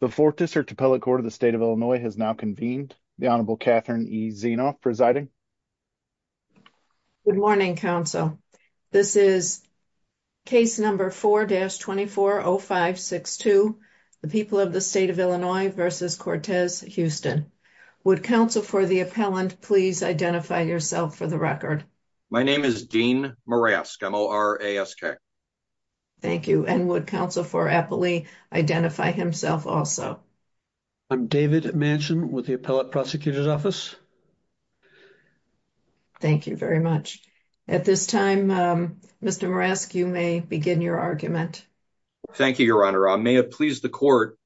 The 4th District Appellate Court of the State of Illinois has now convened. The Honorable Catherine E. Zienoff presiding. Good morning, counsel. This is case number 4-240562, the people of the state of Illinois versus Cortez, Houston. Would counsel for the appellant, please identify yourself for the record. My name is Dean Marask, M-O-R-A-S-K. Thank you. And would counsel for appellee identify himself also? I'm David Manchin with the appellate prosecutor's office. Thank you very much. At this time, Mr. Marask, you may begin your argument. Thank you, Your Honor. I may have pleased the court.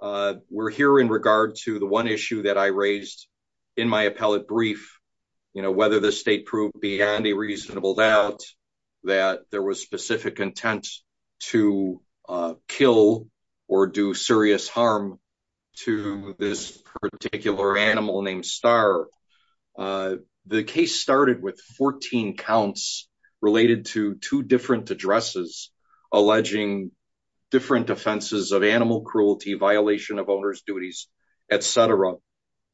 We're here in regard to the one issue that I raised in my appellate brief, you know, whether the state proved beyond a reasonable doubt that there was specific intent to, uh, kill or do serious harm to this particular animal named Star. Uh, the case started with 14 counts related to two different addresses, alleging different offenses of animal cruelty, violation of owner's duties, et cetera,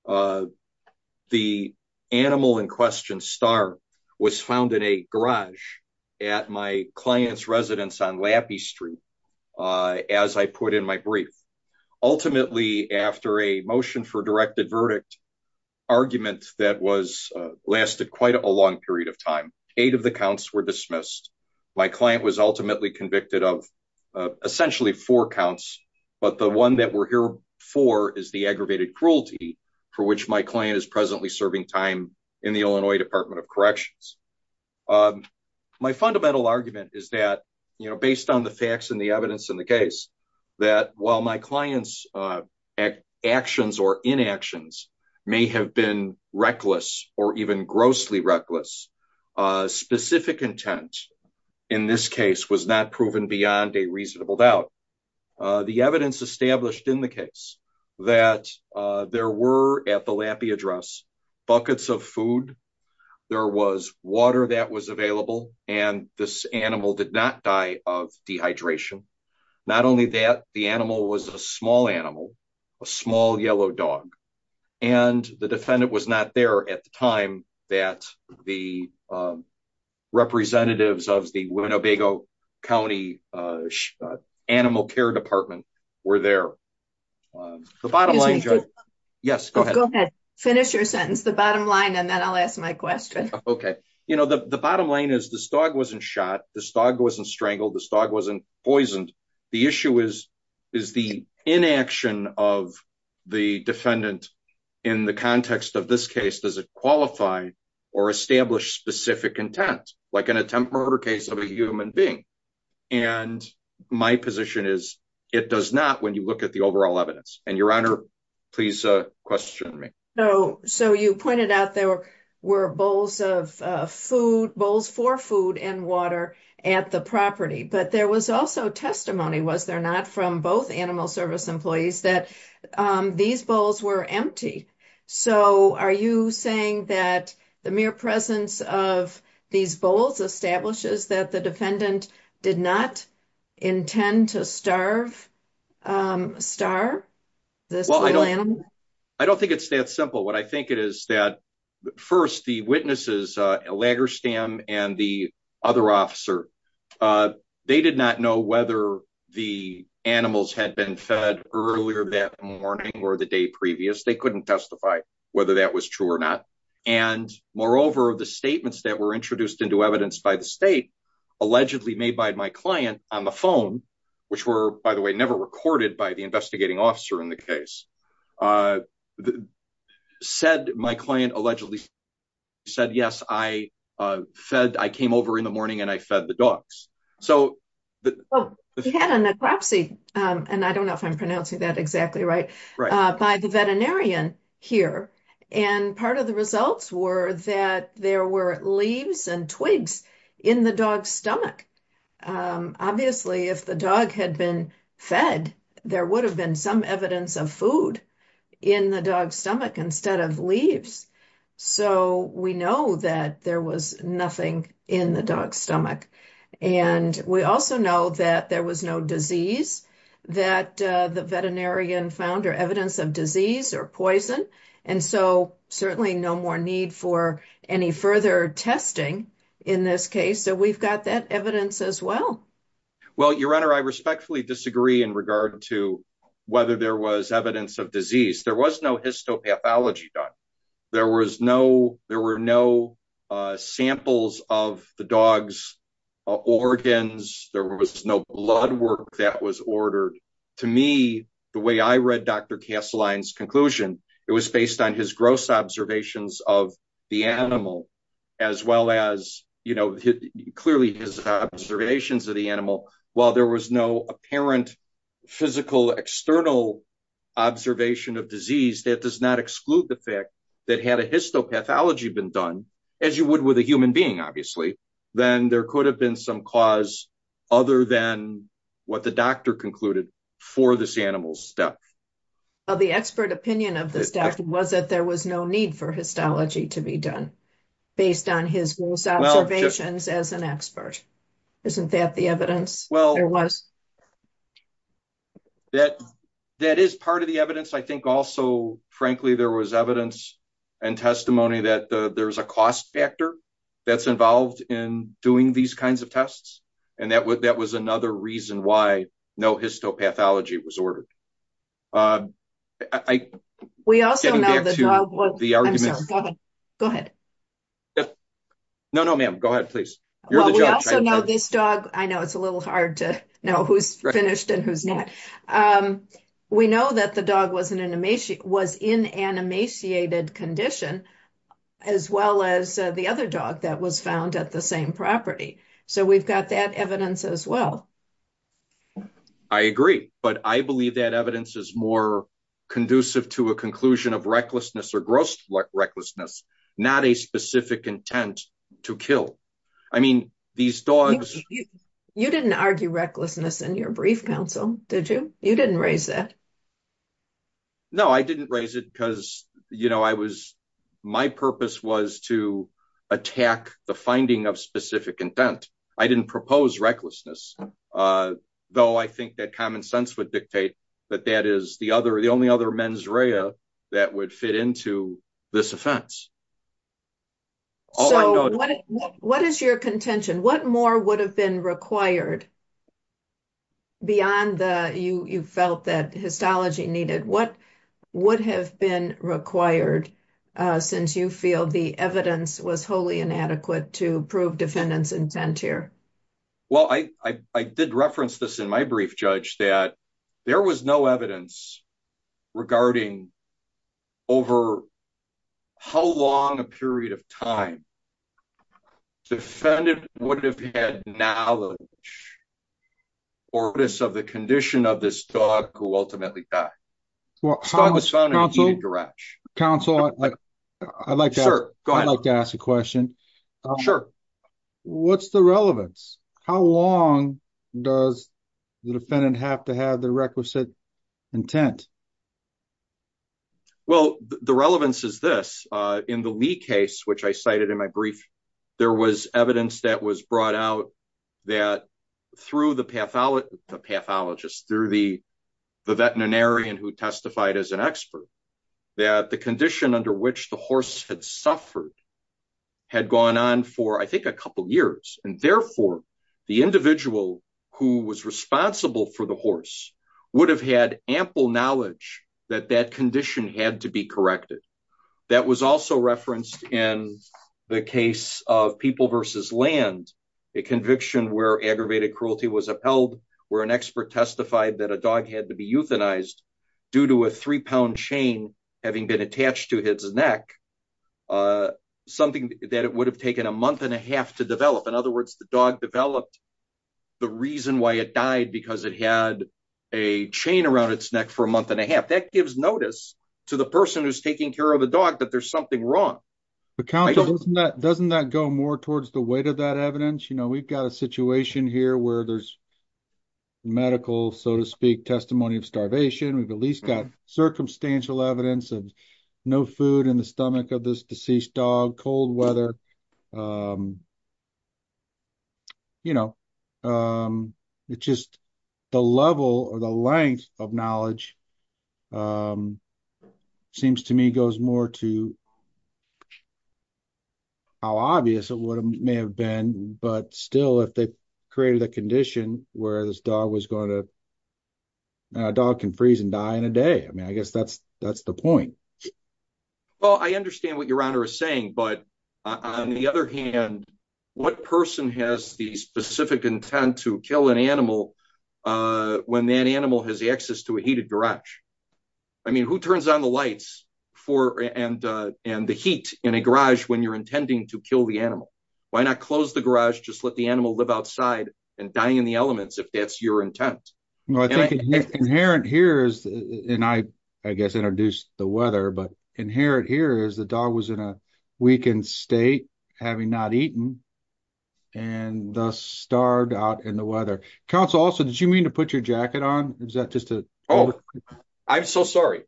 uh, the animal in question Star was found in a garage at my client's residence on Lappy street. Uh, as I put in my brief, ultimately after a motion for directed verdict argument that was, uh, lasted quite a long period of time, eight of the counts were dismissed. My client was ultimately convicted of, uh, essentially four counts, but the one that we're here for is the aggravated cruelty for which my client is presently serving time in the Illinois department of corrections. Um, my fundamental argument is that, you know, based on the facts and the evidence in the case that while my clients, uh, actions or inactions may have been reckless or even grossly reckless, uh, specific intent in this case was not proven beyond a reasonable doubt, uh, the evidence established in the case that, uh, there were at the Lappy address buckets of food. There was water that was available and this animal did not die of dehydration. Not only that the animal was a small animal, a small yellow dog. And the defendant was not there at the time that the, um, representatives of the Winnebago County, uh, animal care department were there. Um, the bottom line. Yes, go ahead. Finish your sentence, the bottom line. And then I'll ask my question. You know, the, the bottom line is this dog wasn't shot. This dog wasn't strangled. This dog wasn't poisoned. The issue is, is the inaction of the defendant in the context of this case, does it qualify or establish specific intent, like an attempt murder case of a human being? And my position is it does not. When you look at the overall evidence and your honor, please question me. No. So you pointed out there were bowls of, uh, food bowls for food and water at the property. But there was also testimony. Was there not from both animal service employees that, um, these bowls were empty. So are you saying that the mere presence of these bowls establishes that the defendant did not intend to starve, um, starve this little animal? I don't think it's that simple. What I think it is that first the witnesses, uh, Lagerstam and the other officer, uh, they did not know whether the animals had been fed earlier that morning or the day previous. They couldn't testify whether that was true or not. And moreover, the statements that were introduced into evidence by the state allegedly made by my client on the phone, which were, by the way, never recorded by the investigating officer in the case. Uh, said my client allegedly said, yes, I, uh, fed, I came over in the morning and I fed the dogs. He had a necropsy. Um, and I don't know if I'm pronouncing that exactly right. Uh, by the veterinarian here. And part of the results were that there were leaves and twigs in the dog's stomach. Um, obviously if the dog had been fed, there would have been some evidence of food in the dog's stomach instead of leaves. So we know that there was nothing in the dog's stomach. And we also know that there was no disease that, uh, the veterinarian found or evidence of disease or poison. And so certainly no more need for any further testing in this case. So we've got that evidence as well. Well, your honor, I respectfully disagree in regard to whether there was evidence of disease. There was no histopathology done. There was no, there were no, uh, samples of the dog's organs. There was no blood work that was ordered to me, the way I read Dr. Kasseline's conclusion. It was based on his gross observations of the animal as well as, you know, clearly his observations of the animal, while there was no apparent physical external observation of disease, that does not exclude the fact that had a histopathology been done as you would with a human being, obviously, then there could have been some cause other than what the doctor concluded for this animal's death. Well, the expert opinion of this doctor was that there was no need for histology to be done based on his observations as an expert. Isn't that the evidence? Well, that, that is part of the evidence. I think also, frankly, there was evidence and testimony that there's a cost factor that's involved in doing these kinds of tests. And that would, that was another reason why no histopathology was ordered. Uh, I, we also know the argument, go ahead. No, no, ma'am. Go ahead, please. You're the judge. I know this dog. I know it's a little hard to know who's finished and who's not. Um, we know that the dog wasn't an emaciated, was in an emaciated condition as well as the other dog that was found at the same property. So we've got that evidence as well. I agree. But I believe that evidence is more conducive to a conclusion of recklessness or gross recklessness, not a specific intent to kill. I mean, these dogs, you didn't argue recklessness in your brief counsel. Did you, you didn't raise that? No, I didn't raise it because you know, I was, my purpose was to attack the finding of specific intent. I didn't propose recklessness. Uh, though I think that common sense would dictate that that is the other, the only other mens rea that would fit into this offense. So what is your contention? What more would have been required beyond the, you, you felt that histology needed, what would have been required, uh, since you feel the evidence was totally inadequate to prove defendants intent here? Well, I, I, I did reference this in my brief judge that there was no evidence regarding over how long a period of time defendant would have had knowledge or this, of the condition of this dog who ultimately died. Well, I was found in a garage. Counsel, I'd like to, I'd like to ask a question. What's the relevance? How long does the defendant have to have the requisite intent? Well, the relevance is this, uh, in the lead case, which I cited in my brief, there was evidence that was brought out that through the pathology, the the veterinarian who testified as an expert that the condition under which the horse had suffered had gone on for, I think a couple of years. And therefore the individual who was responsible for the horse would have had ample knowledge that that condition had to be corrected that was also referenced in the case of people versus land, a conviction where aggravated cruelty was upheld where an expert testified that a dog had to be euthanized due to a three pound chain, having been attached to his neck, uh, something that it would have taken a month and a half to develop. In other words, the dog developed the reason why it died, because it had a chain around its neck for a month and a half that gives notice to the person who's taking care of a dog, that there's something wrong, but doesn't that go more towards the weight of that evidence? You know, we've got a situation here where there's medical, so to speak, testimony of starvation. We've at least got circumstantial evidence of no food in the stomach of this deceased dog, cold weather. Um, you know, um, it's just the level or the length of knowledge, um, seems to me goes more to how obvious it may have been, but still, if they created a condition where this dog was going to, a dog can freeze and die in a day. I mean, I guess that's, that's the point. Well, I understand what your honor is saying, but on the other hand, what person has the specific intent to kill an animal, uh, when that animal has the access to a heated garage? I mean, who turns on the lights for, and, uh, and the heat in a garage when you're intending to kill the animal? Why not close the garage? Just let the animal live outside and dying in the elements. If that's your intent. Well, I think inherent here is, and I, I guess introduced the weather, but inherent here is the dog was in a weakened state having not eaten and thus starved out in the weather. Counsel also, did you mean to put your jacket on? Is that just a, oh, I'm so sorry.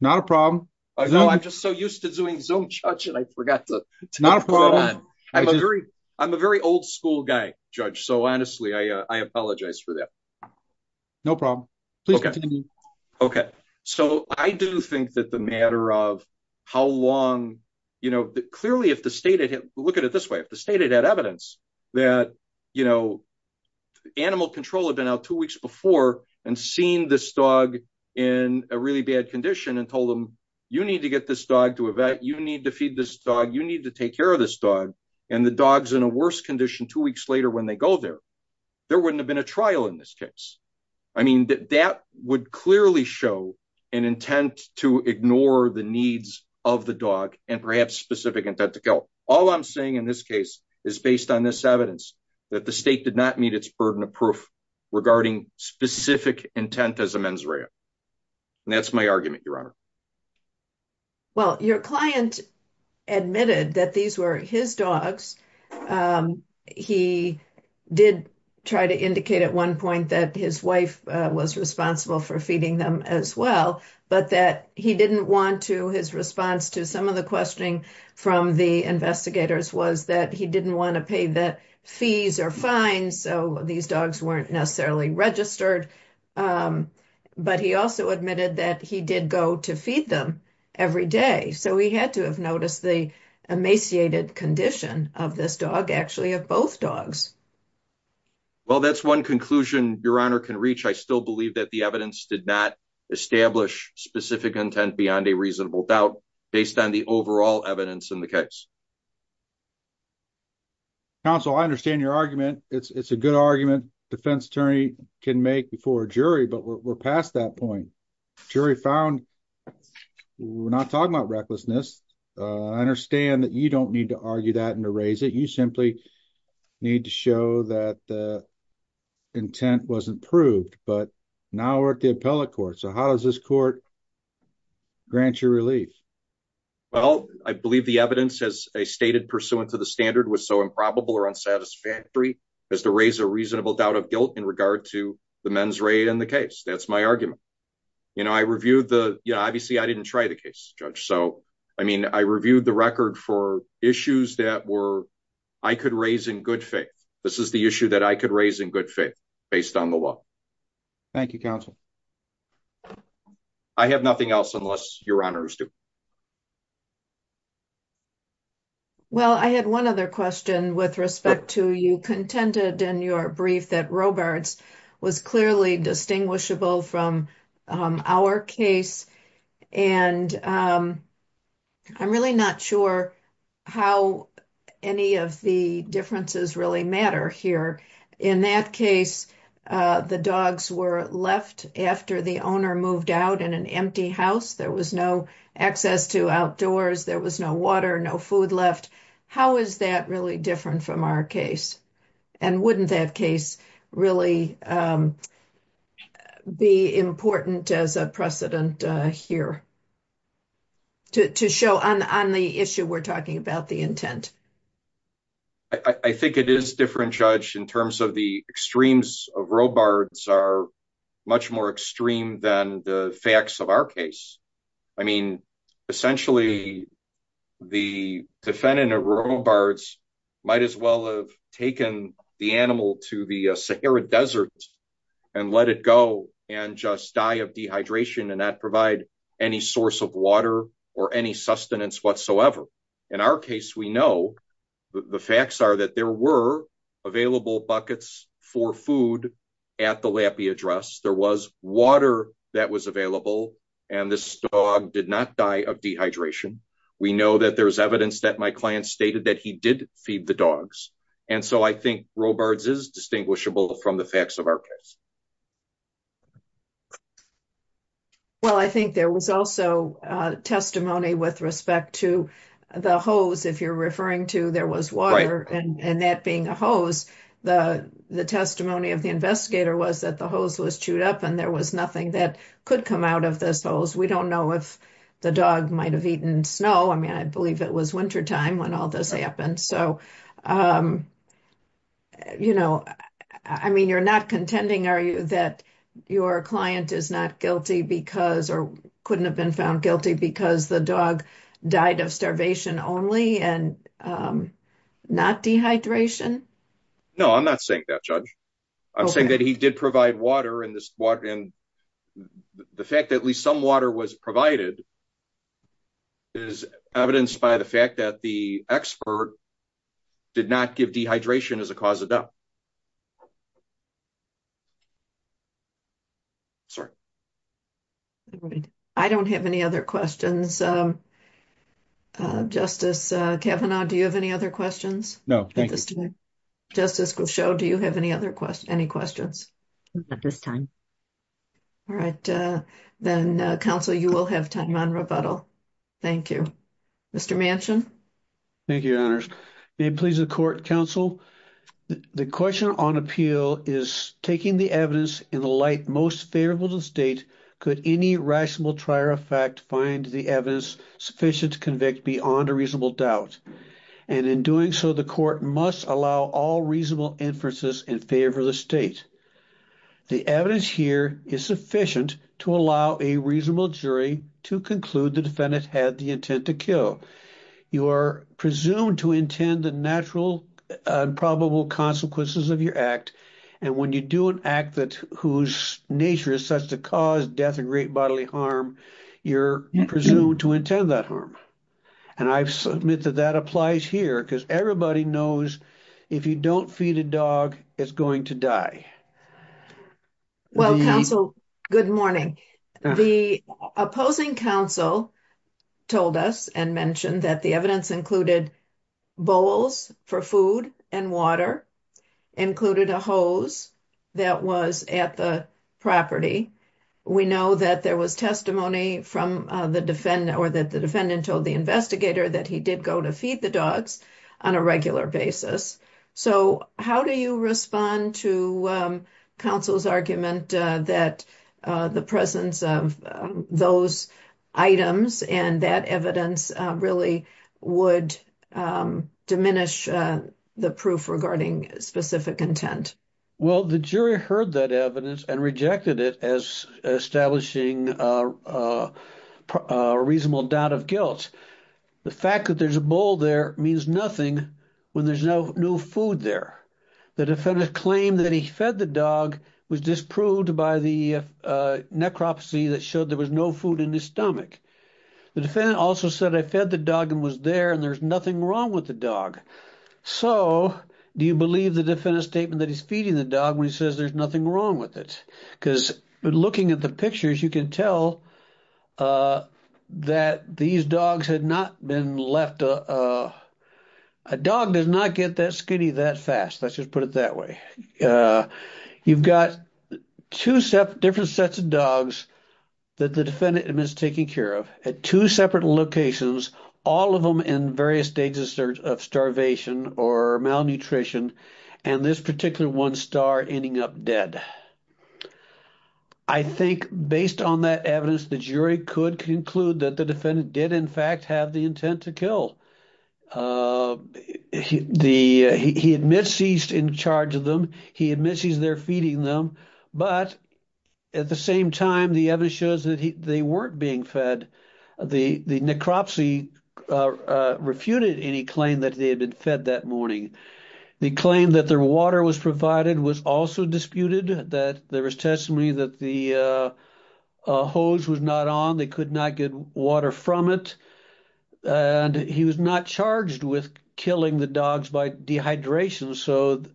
Not a problem. I know. I'm just so used to doing zoom judge and I forgot to, I'm a very, I'm a very old school guy, judge. So honestly, I, uh, I apologize for that. No problem. So I do think that the matter of how long, you know, clearly if the state, look at it this way, if the state had evidence that, you know, animal control had been out two weeks before and seen this dog in a really bad condition and told them, you need to get this dog to a vet. You need to feed this dog. You need to take care of this dog. And the dog's in a worse condition two weeks later when they go there, there wouldn't have been a trial in this case. I mean, that, that would clearly show an intent to ignore the needs of the dog and perhaps specific intent to go. All I'm saying in this case is based on this evidence that the state did not meet its burden of proof regarding specific intent as a mens rea. And that's my argument, your honor. Well, your client admitted that these were his dogs. Um, he did try to indicate at one point that his wife was responsible for feeding them as well, but that he didn't want to his response to some of the questioning from the investigators was that he didn't want to pay the fees are fine, so these dogs weren't necessarily registered. Um, but he also admitted that he did go to feed them every day. So he had to have noticed the emaciated condition of this dog actually have both dogs. Well, that's one conclusion your honor can reach. I still believe that the evidence did not establish specific intent beyond a reasonable doubt based on the overall evidence in the case. Counsel, I understand your argument. It's a good argument defense attorney can make before a jury, but we're past that point. Jury found, we're not talking about recklessness. I understand that you don't need to argue that and erase it. You simply need to show that the intent wasn't proved, but now we're at the appellate court. So how does this court grant your relief? Well, I believe the evidence has a stated pursuant to the standard was so improbable or unsatisfactory as to raise a reasonable doubt of guilt in regard to the men's raid and the case. That's my argument. You know, I reviewed the, you know, obviously I didn't try the case judge. So, I mean, I reviewed the record for issues that were, I could raise in good faith. This is the issue that I could raise in good faith based on the law. Thank you. Counsel, I have nothing else unless your honors do. Well, I had one other question with respect to you contended in your brief that Robards was clearly distinguishable from our case, and I'm really not sure how any of the differences really matter here. In that case the dogs were left after the owner moved out in an empty house. There was no access to outdoors. There was no water, no food left. How is that really different from our case? And wouldn't that case really be important as a precedent here to show on the issue we're talking about the intent? I think it is different judge in terms of the extremes of Robards are much more extreme than the facts of our case. I mean, essentially the defendant of Robards might as well have taken the animal to the Sahara desert and let it go and just die of dehydration and not provide any source of water or any sustenance whatsoever in our case, we know the facts are that there were available buckets for food at the Lappy Address, there was water that was available and this dog did not die of dehydration. We know that there's evidence that my client stated that he did feed the dogs. And so I think Robards is distinguishable from the facts of our case. Well, I think there was also a testimony with respect to the hose, if you're referring to there was water and that being a hose, the testimony of the investigator was that the hose was chewed up and there was nothing that could come out of this hose. We don't know if the dog might've eaten snow. I mean, I believe it was winter time when all this happened. So, um, you know, I mean, you're not contending, are you, that your client is not guilty because, or couldn't have been found guilty because the dog died of starvation only and, um, not dehydration? No, I'm not saying that judge. I'm saying that he did provide water in this water. And the fact that at least some water was provided is evidenced by the fact that the expert did not give dehydration as a cause of death. Sorry. I don't have any other questions. Um, uh, justice, uh, Kevin, do you have any other questions? No. Thank you. Justice Cushow, do you have any other questions, any questions at this time? All right. Uh, then, uh, counsel, you will have time on rebuttal. Thank you, Mr. Manchin. Thank you, your honors. May it please the court, counsel, the question on appeal is taking the evidence in the light most favorable to the state. Could any rational trier effect find the evidence sufficient to convict beyond a reasonable doubt? And in doing so, the court must allow all reasonable inferences in favor of the state. The evidence here is sufficient to allow a reasonable jury to conclude the defendant had the intent to kill. You are presumed to intend the natural and probable consequences of your act. And when you do an act that whose nature is such to cause death and great bodily harm, you're presumed to intend that harm. And I submit that that applies here because everybody knows if you don't feed a dog, it's going to die. Well, counsel, good morning. The opposing counsel told us and mentioned that the evidence included bowls for food and water included a hose that was at the property. We know that there was testimony from the defendant or that the defendant told the investigator that he did go to feed the dogs on a regular basis. So how do you respond to counsel's argument that the presence of those items and that evidence really would diminish the proof regarding specific intent? Well, the jury heard that evidence and rejected it as establishing a reasonable doubt of guilt. The fact that there's a bowl there means nothing when there's no food there. The defendant claimed that he fed the dog was disproved by the necropsy that showed there was no food in his stomach. The defendant also said, I fed the dog and was there and there's nothing wrong with the dog. So do you believe the defendant's statement that he's feeding the dog when he says there's nothing wrong with it? Because looking at the pictures, you can tell that these dogs had not been left. A dog does not get that skinny that fast. Let's just put it that way. You've got two different sets of dogs that the defendant has taken care of at two separate locations, all of them in various stages of starvation or malnutrition, and this particular one star ending up dead. I think based on that evidence, the jury could conclude that the defendant did in fact have the intent to kill. He admits he's in charge of them. He admits he's there feeding them, but at the same time, the evidence shows they weren't being fed. The necropsy refuted any claim that they had been fed that morning. The claim that their water was provided was also disputed, that there was testimony that the hose was not on, they could not get water from it, and he was not charged with killing the dogs by dehydration, so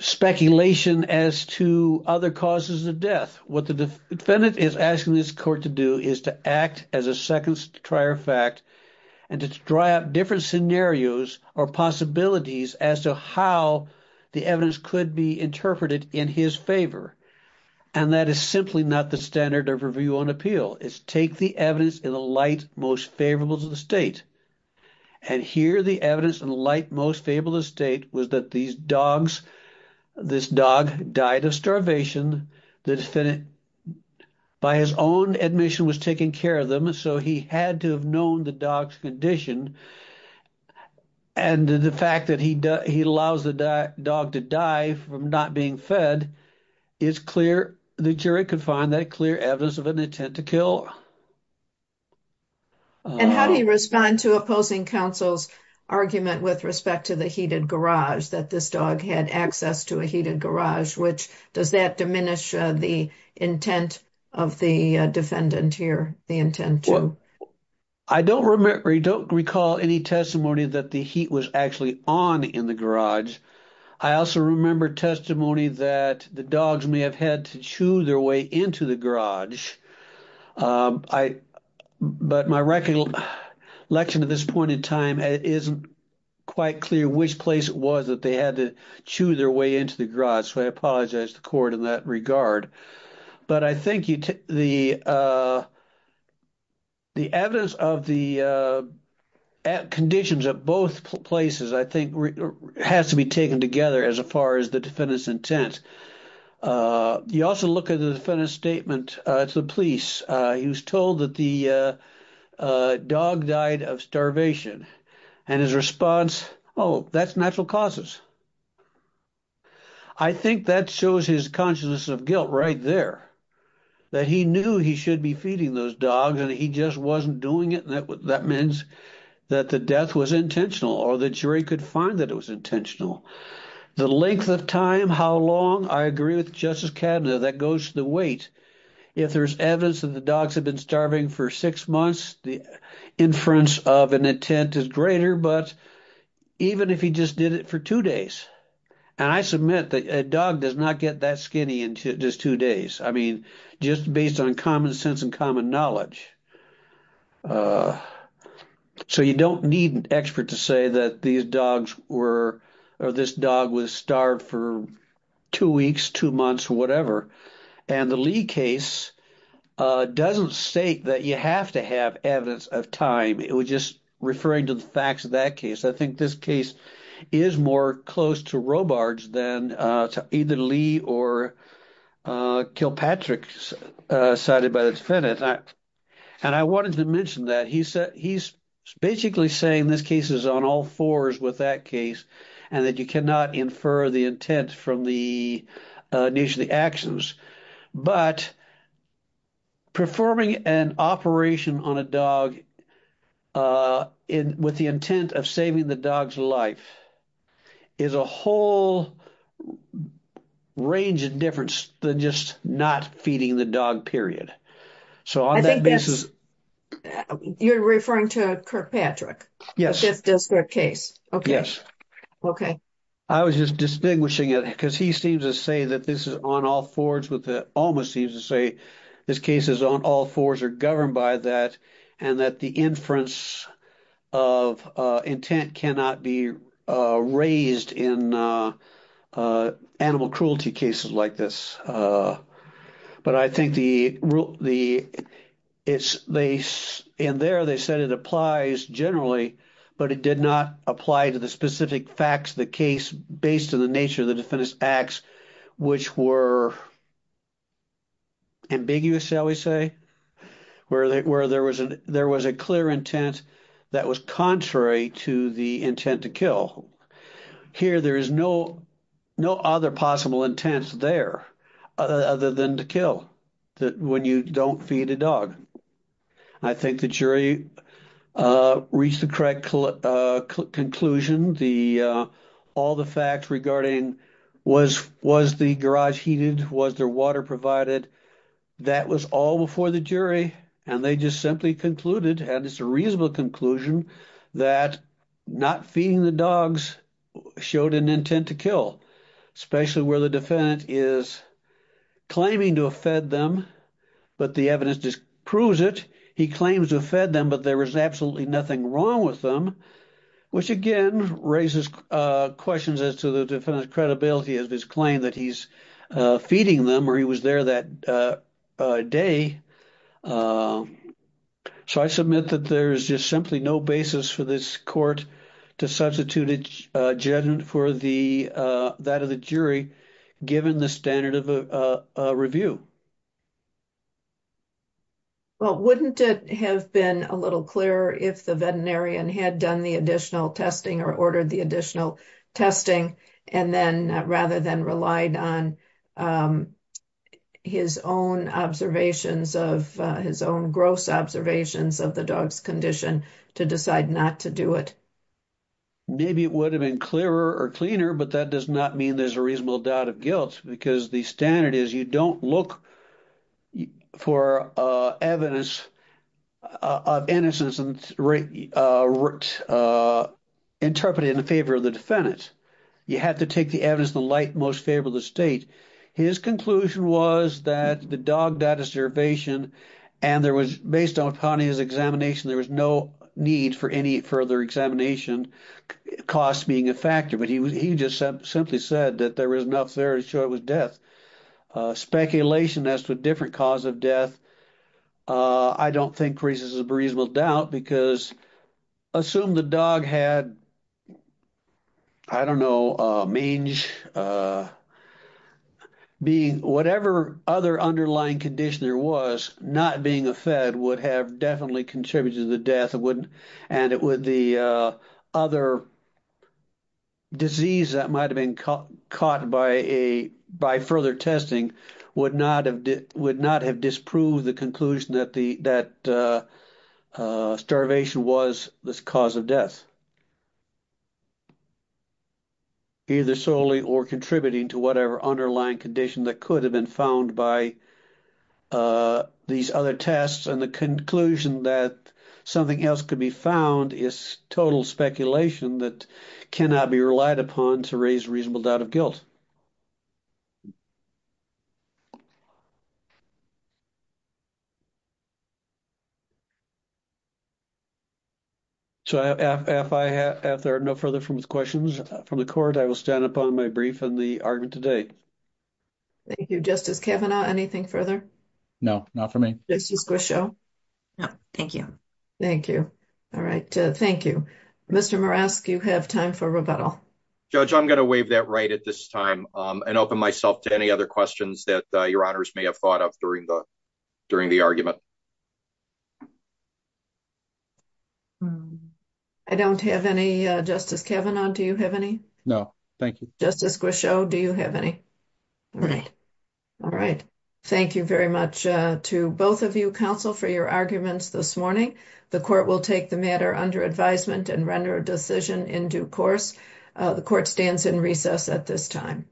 speculation as to other causes of death, what the defendant is asking this court to do is to act as a second trier fact and to try out different scenarios or possibilities as to how the evidence could be interpreted in his favor, and that is simply not the standard of review on appeal. It's take the evidence in the light most favorable to the state, and here the evidence in the light most favorable to the state was that these dogs, this dog died of starvation, the defendant by his own admission was taking care of them, so he had to have known the dog's condition, and the fact that he allows the dog to die from not being fed, it's clear the jury could find that clear evidence of an intent to kill. And how do you respond to opposing counsel's argument with respect to the heated garage, that this dog had access to a heated garage, which does that diminish the intent of the defendant here, the intent to? I don't recall any testimony that the heat was actually on in the garage. I also remember testimony that the dogs may have had to chew their way into the garage, but my recollection at this point in time, it isn't quite clear which place it was that they had to chew their way into the garage, so I apologize to the court in that regard. But I think the evidence of the conditions at both places, I think, has to be taken together as far as the defendant's intent. You also look at the defendant's statement to the police. He was told that the dog died of starvation, and his response, oh, that's natural causes. I think that shows his consciousness of guilt right there, that he knew he should be feeding those dogs, and he just wasn't doing it, and that means that the death was intentional, or the jury could find that it was intentional. The length of time, how long, I agree with Justice Cadena, that goes to the weight. If there's evidence that the dogs have been starving for six months, the inference of an intent is greater, but even if he just did it for two days, and I submit that a dog does not get that skinny in just two days, I mean, just based on common sense and common knowledge. So you don't need an expert to say that these dogs were, or this dog was starved for two weeks, two months, or whatever, and the Lee case doesn't state that you have to have evidence of time. It was just referring to the facts of that case. I think this case is more close to Robards than to either Lee or Kilpatrick, cited by the defendant. And I wanted to mention that. He's basically saying this case is on all fours with that case, and that you cannot infer the intent from the nature of the actions, but performing an operation on a dog with the intent of saving the dog's life is a whole range of difference than just not feeding the dog, period. So on that basis... I think that's, you're referring to Kirkpatrick. Yes. The fifth district case. Okay. Yes. Okay. I was just distinguishing it because he seems to say that this is on all fours with the, almost seems to say this case is on all fours or governed by that, and that the inference of intent cannot be raised in animal cruelty cases like this. But I think the, and there they said it applies generally, but it did not apply to the specific facts of the case based on the nature of the defendant's acts, which were ambiguous, shall we say, where there was a clear intent that was contrary to the intent to kill. Here, there is no other possible intent there. Other than to kill, that when you don't feed a dog. I think the jury reached the correct conclusion. The, all the facts regarding was, was the garage heated? Was there water provided? That was all before the jury and they just simply concluded, and it's a reasonable conclusion, that not feeding the dogs showed an intent to kill. Especially where the defendant is claiming to have fed them, but the evidence disproves it, he claims to have fed them, but there was absolutely nothing wrong with them, which again, raises questions as to the defendant's credibility of his claim that he's feeding them, or he was there that day. So I submit that there is just simply no basis for this court to substitute judgment for the, that of the jury, given the standard of a review. Well, wouldn't it have been a little clearer if the veterinarian had done the additional testing or ordered the additional testing and then, rather than relied on his own observations of, his own gross observations of the dog's condition to decide not to do it? Maybe it would have been clearer or cleaner, but that does not mean there's a reasonable doubt of guilt, because the standard is you don't look for evidence of innocence and, interpret it in favor of the defendant. You have to take the evidence in the light most favorable to the state. His conclusion was that the dog died of starvation and there was, based on Connie's examination, there was no need for any further examination, cost being a factor, but he just simply said that there was enough there to show it was death. Speculation as to a different cause of death, I don't think raises a reasonable doubt, because assume the dog had, I don't know, mange, being, whatever other underlying condition there was, not being a fed would have definitely contributed to the death and it would, the other disease that might have been caught by a, by further testing would not have, would not have disproved the conclusion that the, that starvation was the cause of death, either solely or contributing to whatever underlying condition that could have been found by these other tests. And the conclusion that something else could be found is total speculation that cannot be relied upon to raise reasonable doubt of guilt. So if I have, if there are no further questions from the court, I will stand upon my brief and the argument today. Thank you. Justice Kavanaugh. Anything further? No, not for me. This is Grisham. No, thank you. Thank you. All right. Thank you, Mr. Morask. You have time for rebuttal. Judge. I'm going to wave that right at this time. Um, and open myself to any other questions that your honors may have thought of during the, during the argument. I don't have any, uh, Justice Kavanaugh. Do you have any? No, thank you. Justice Grisham. Do you have any? All right. All right. Thank you very much to both of you counsel for your arguments this morning. The court will take the matter under advisement and render a decision in due course. Uh, the court stands in recess at this time.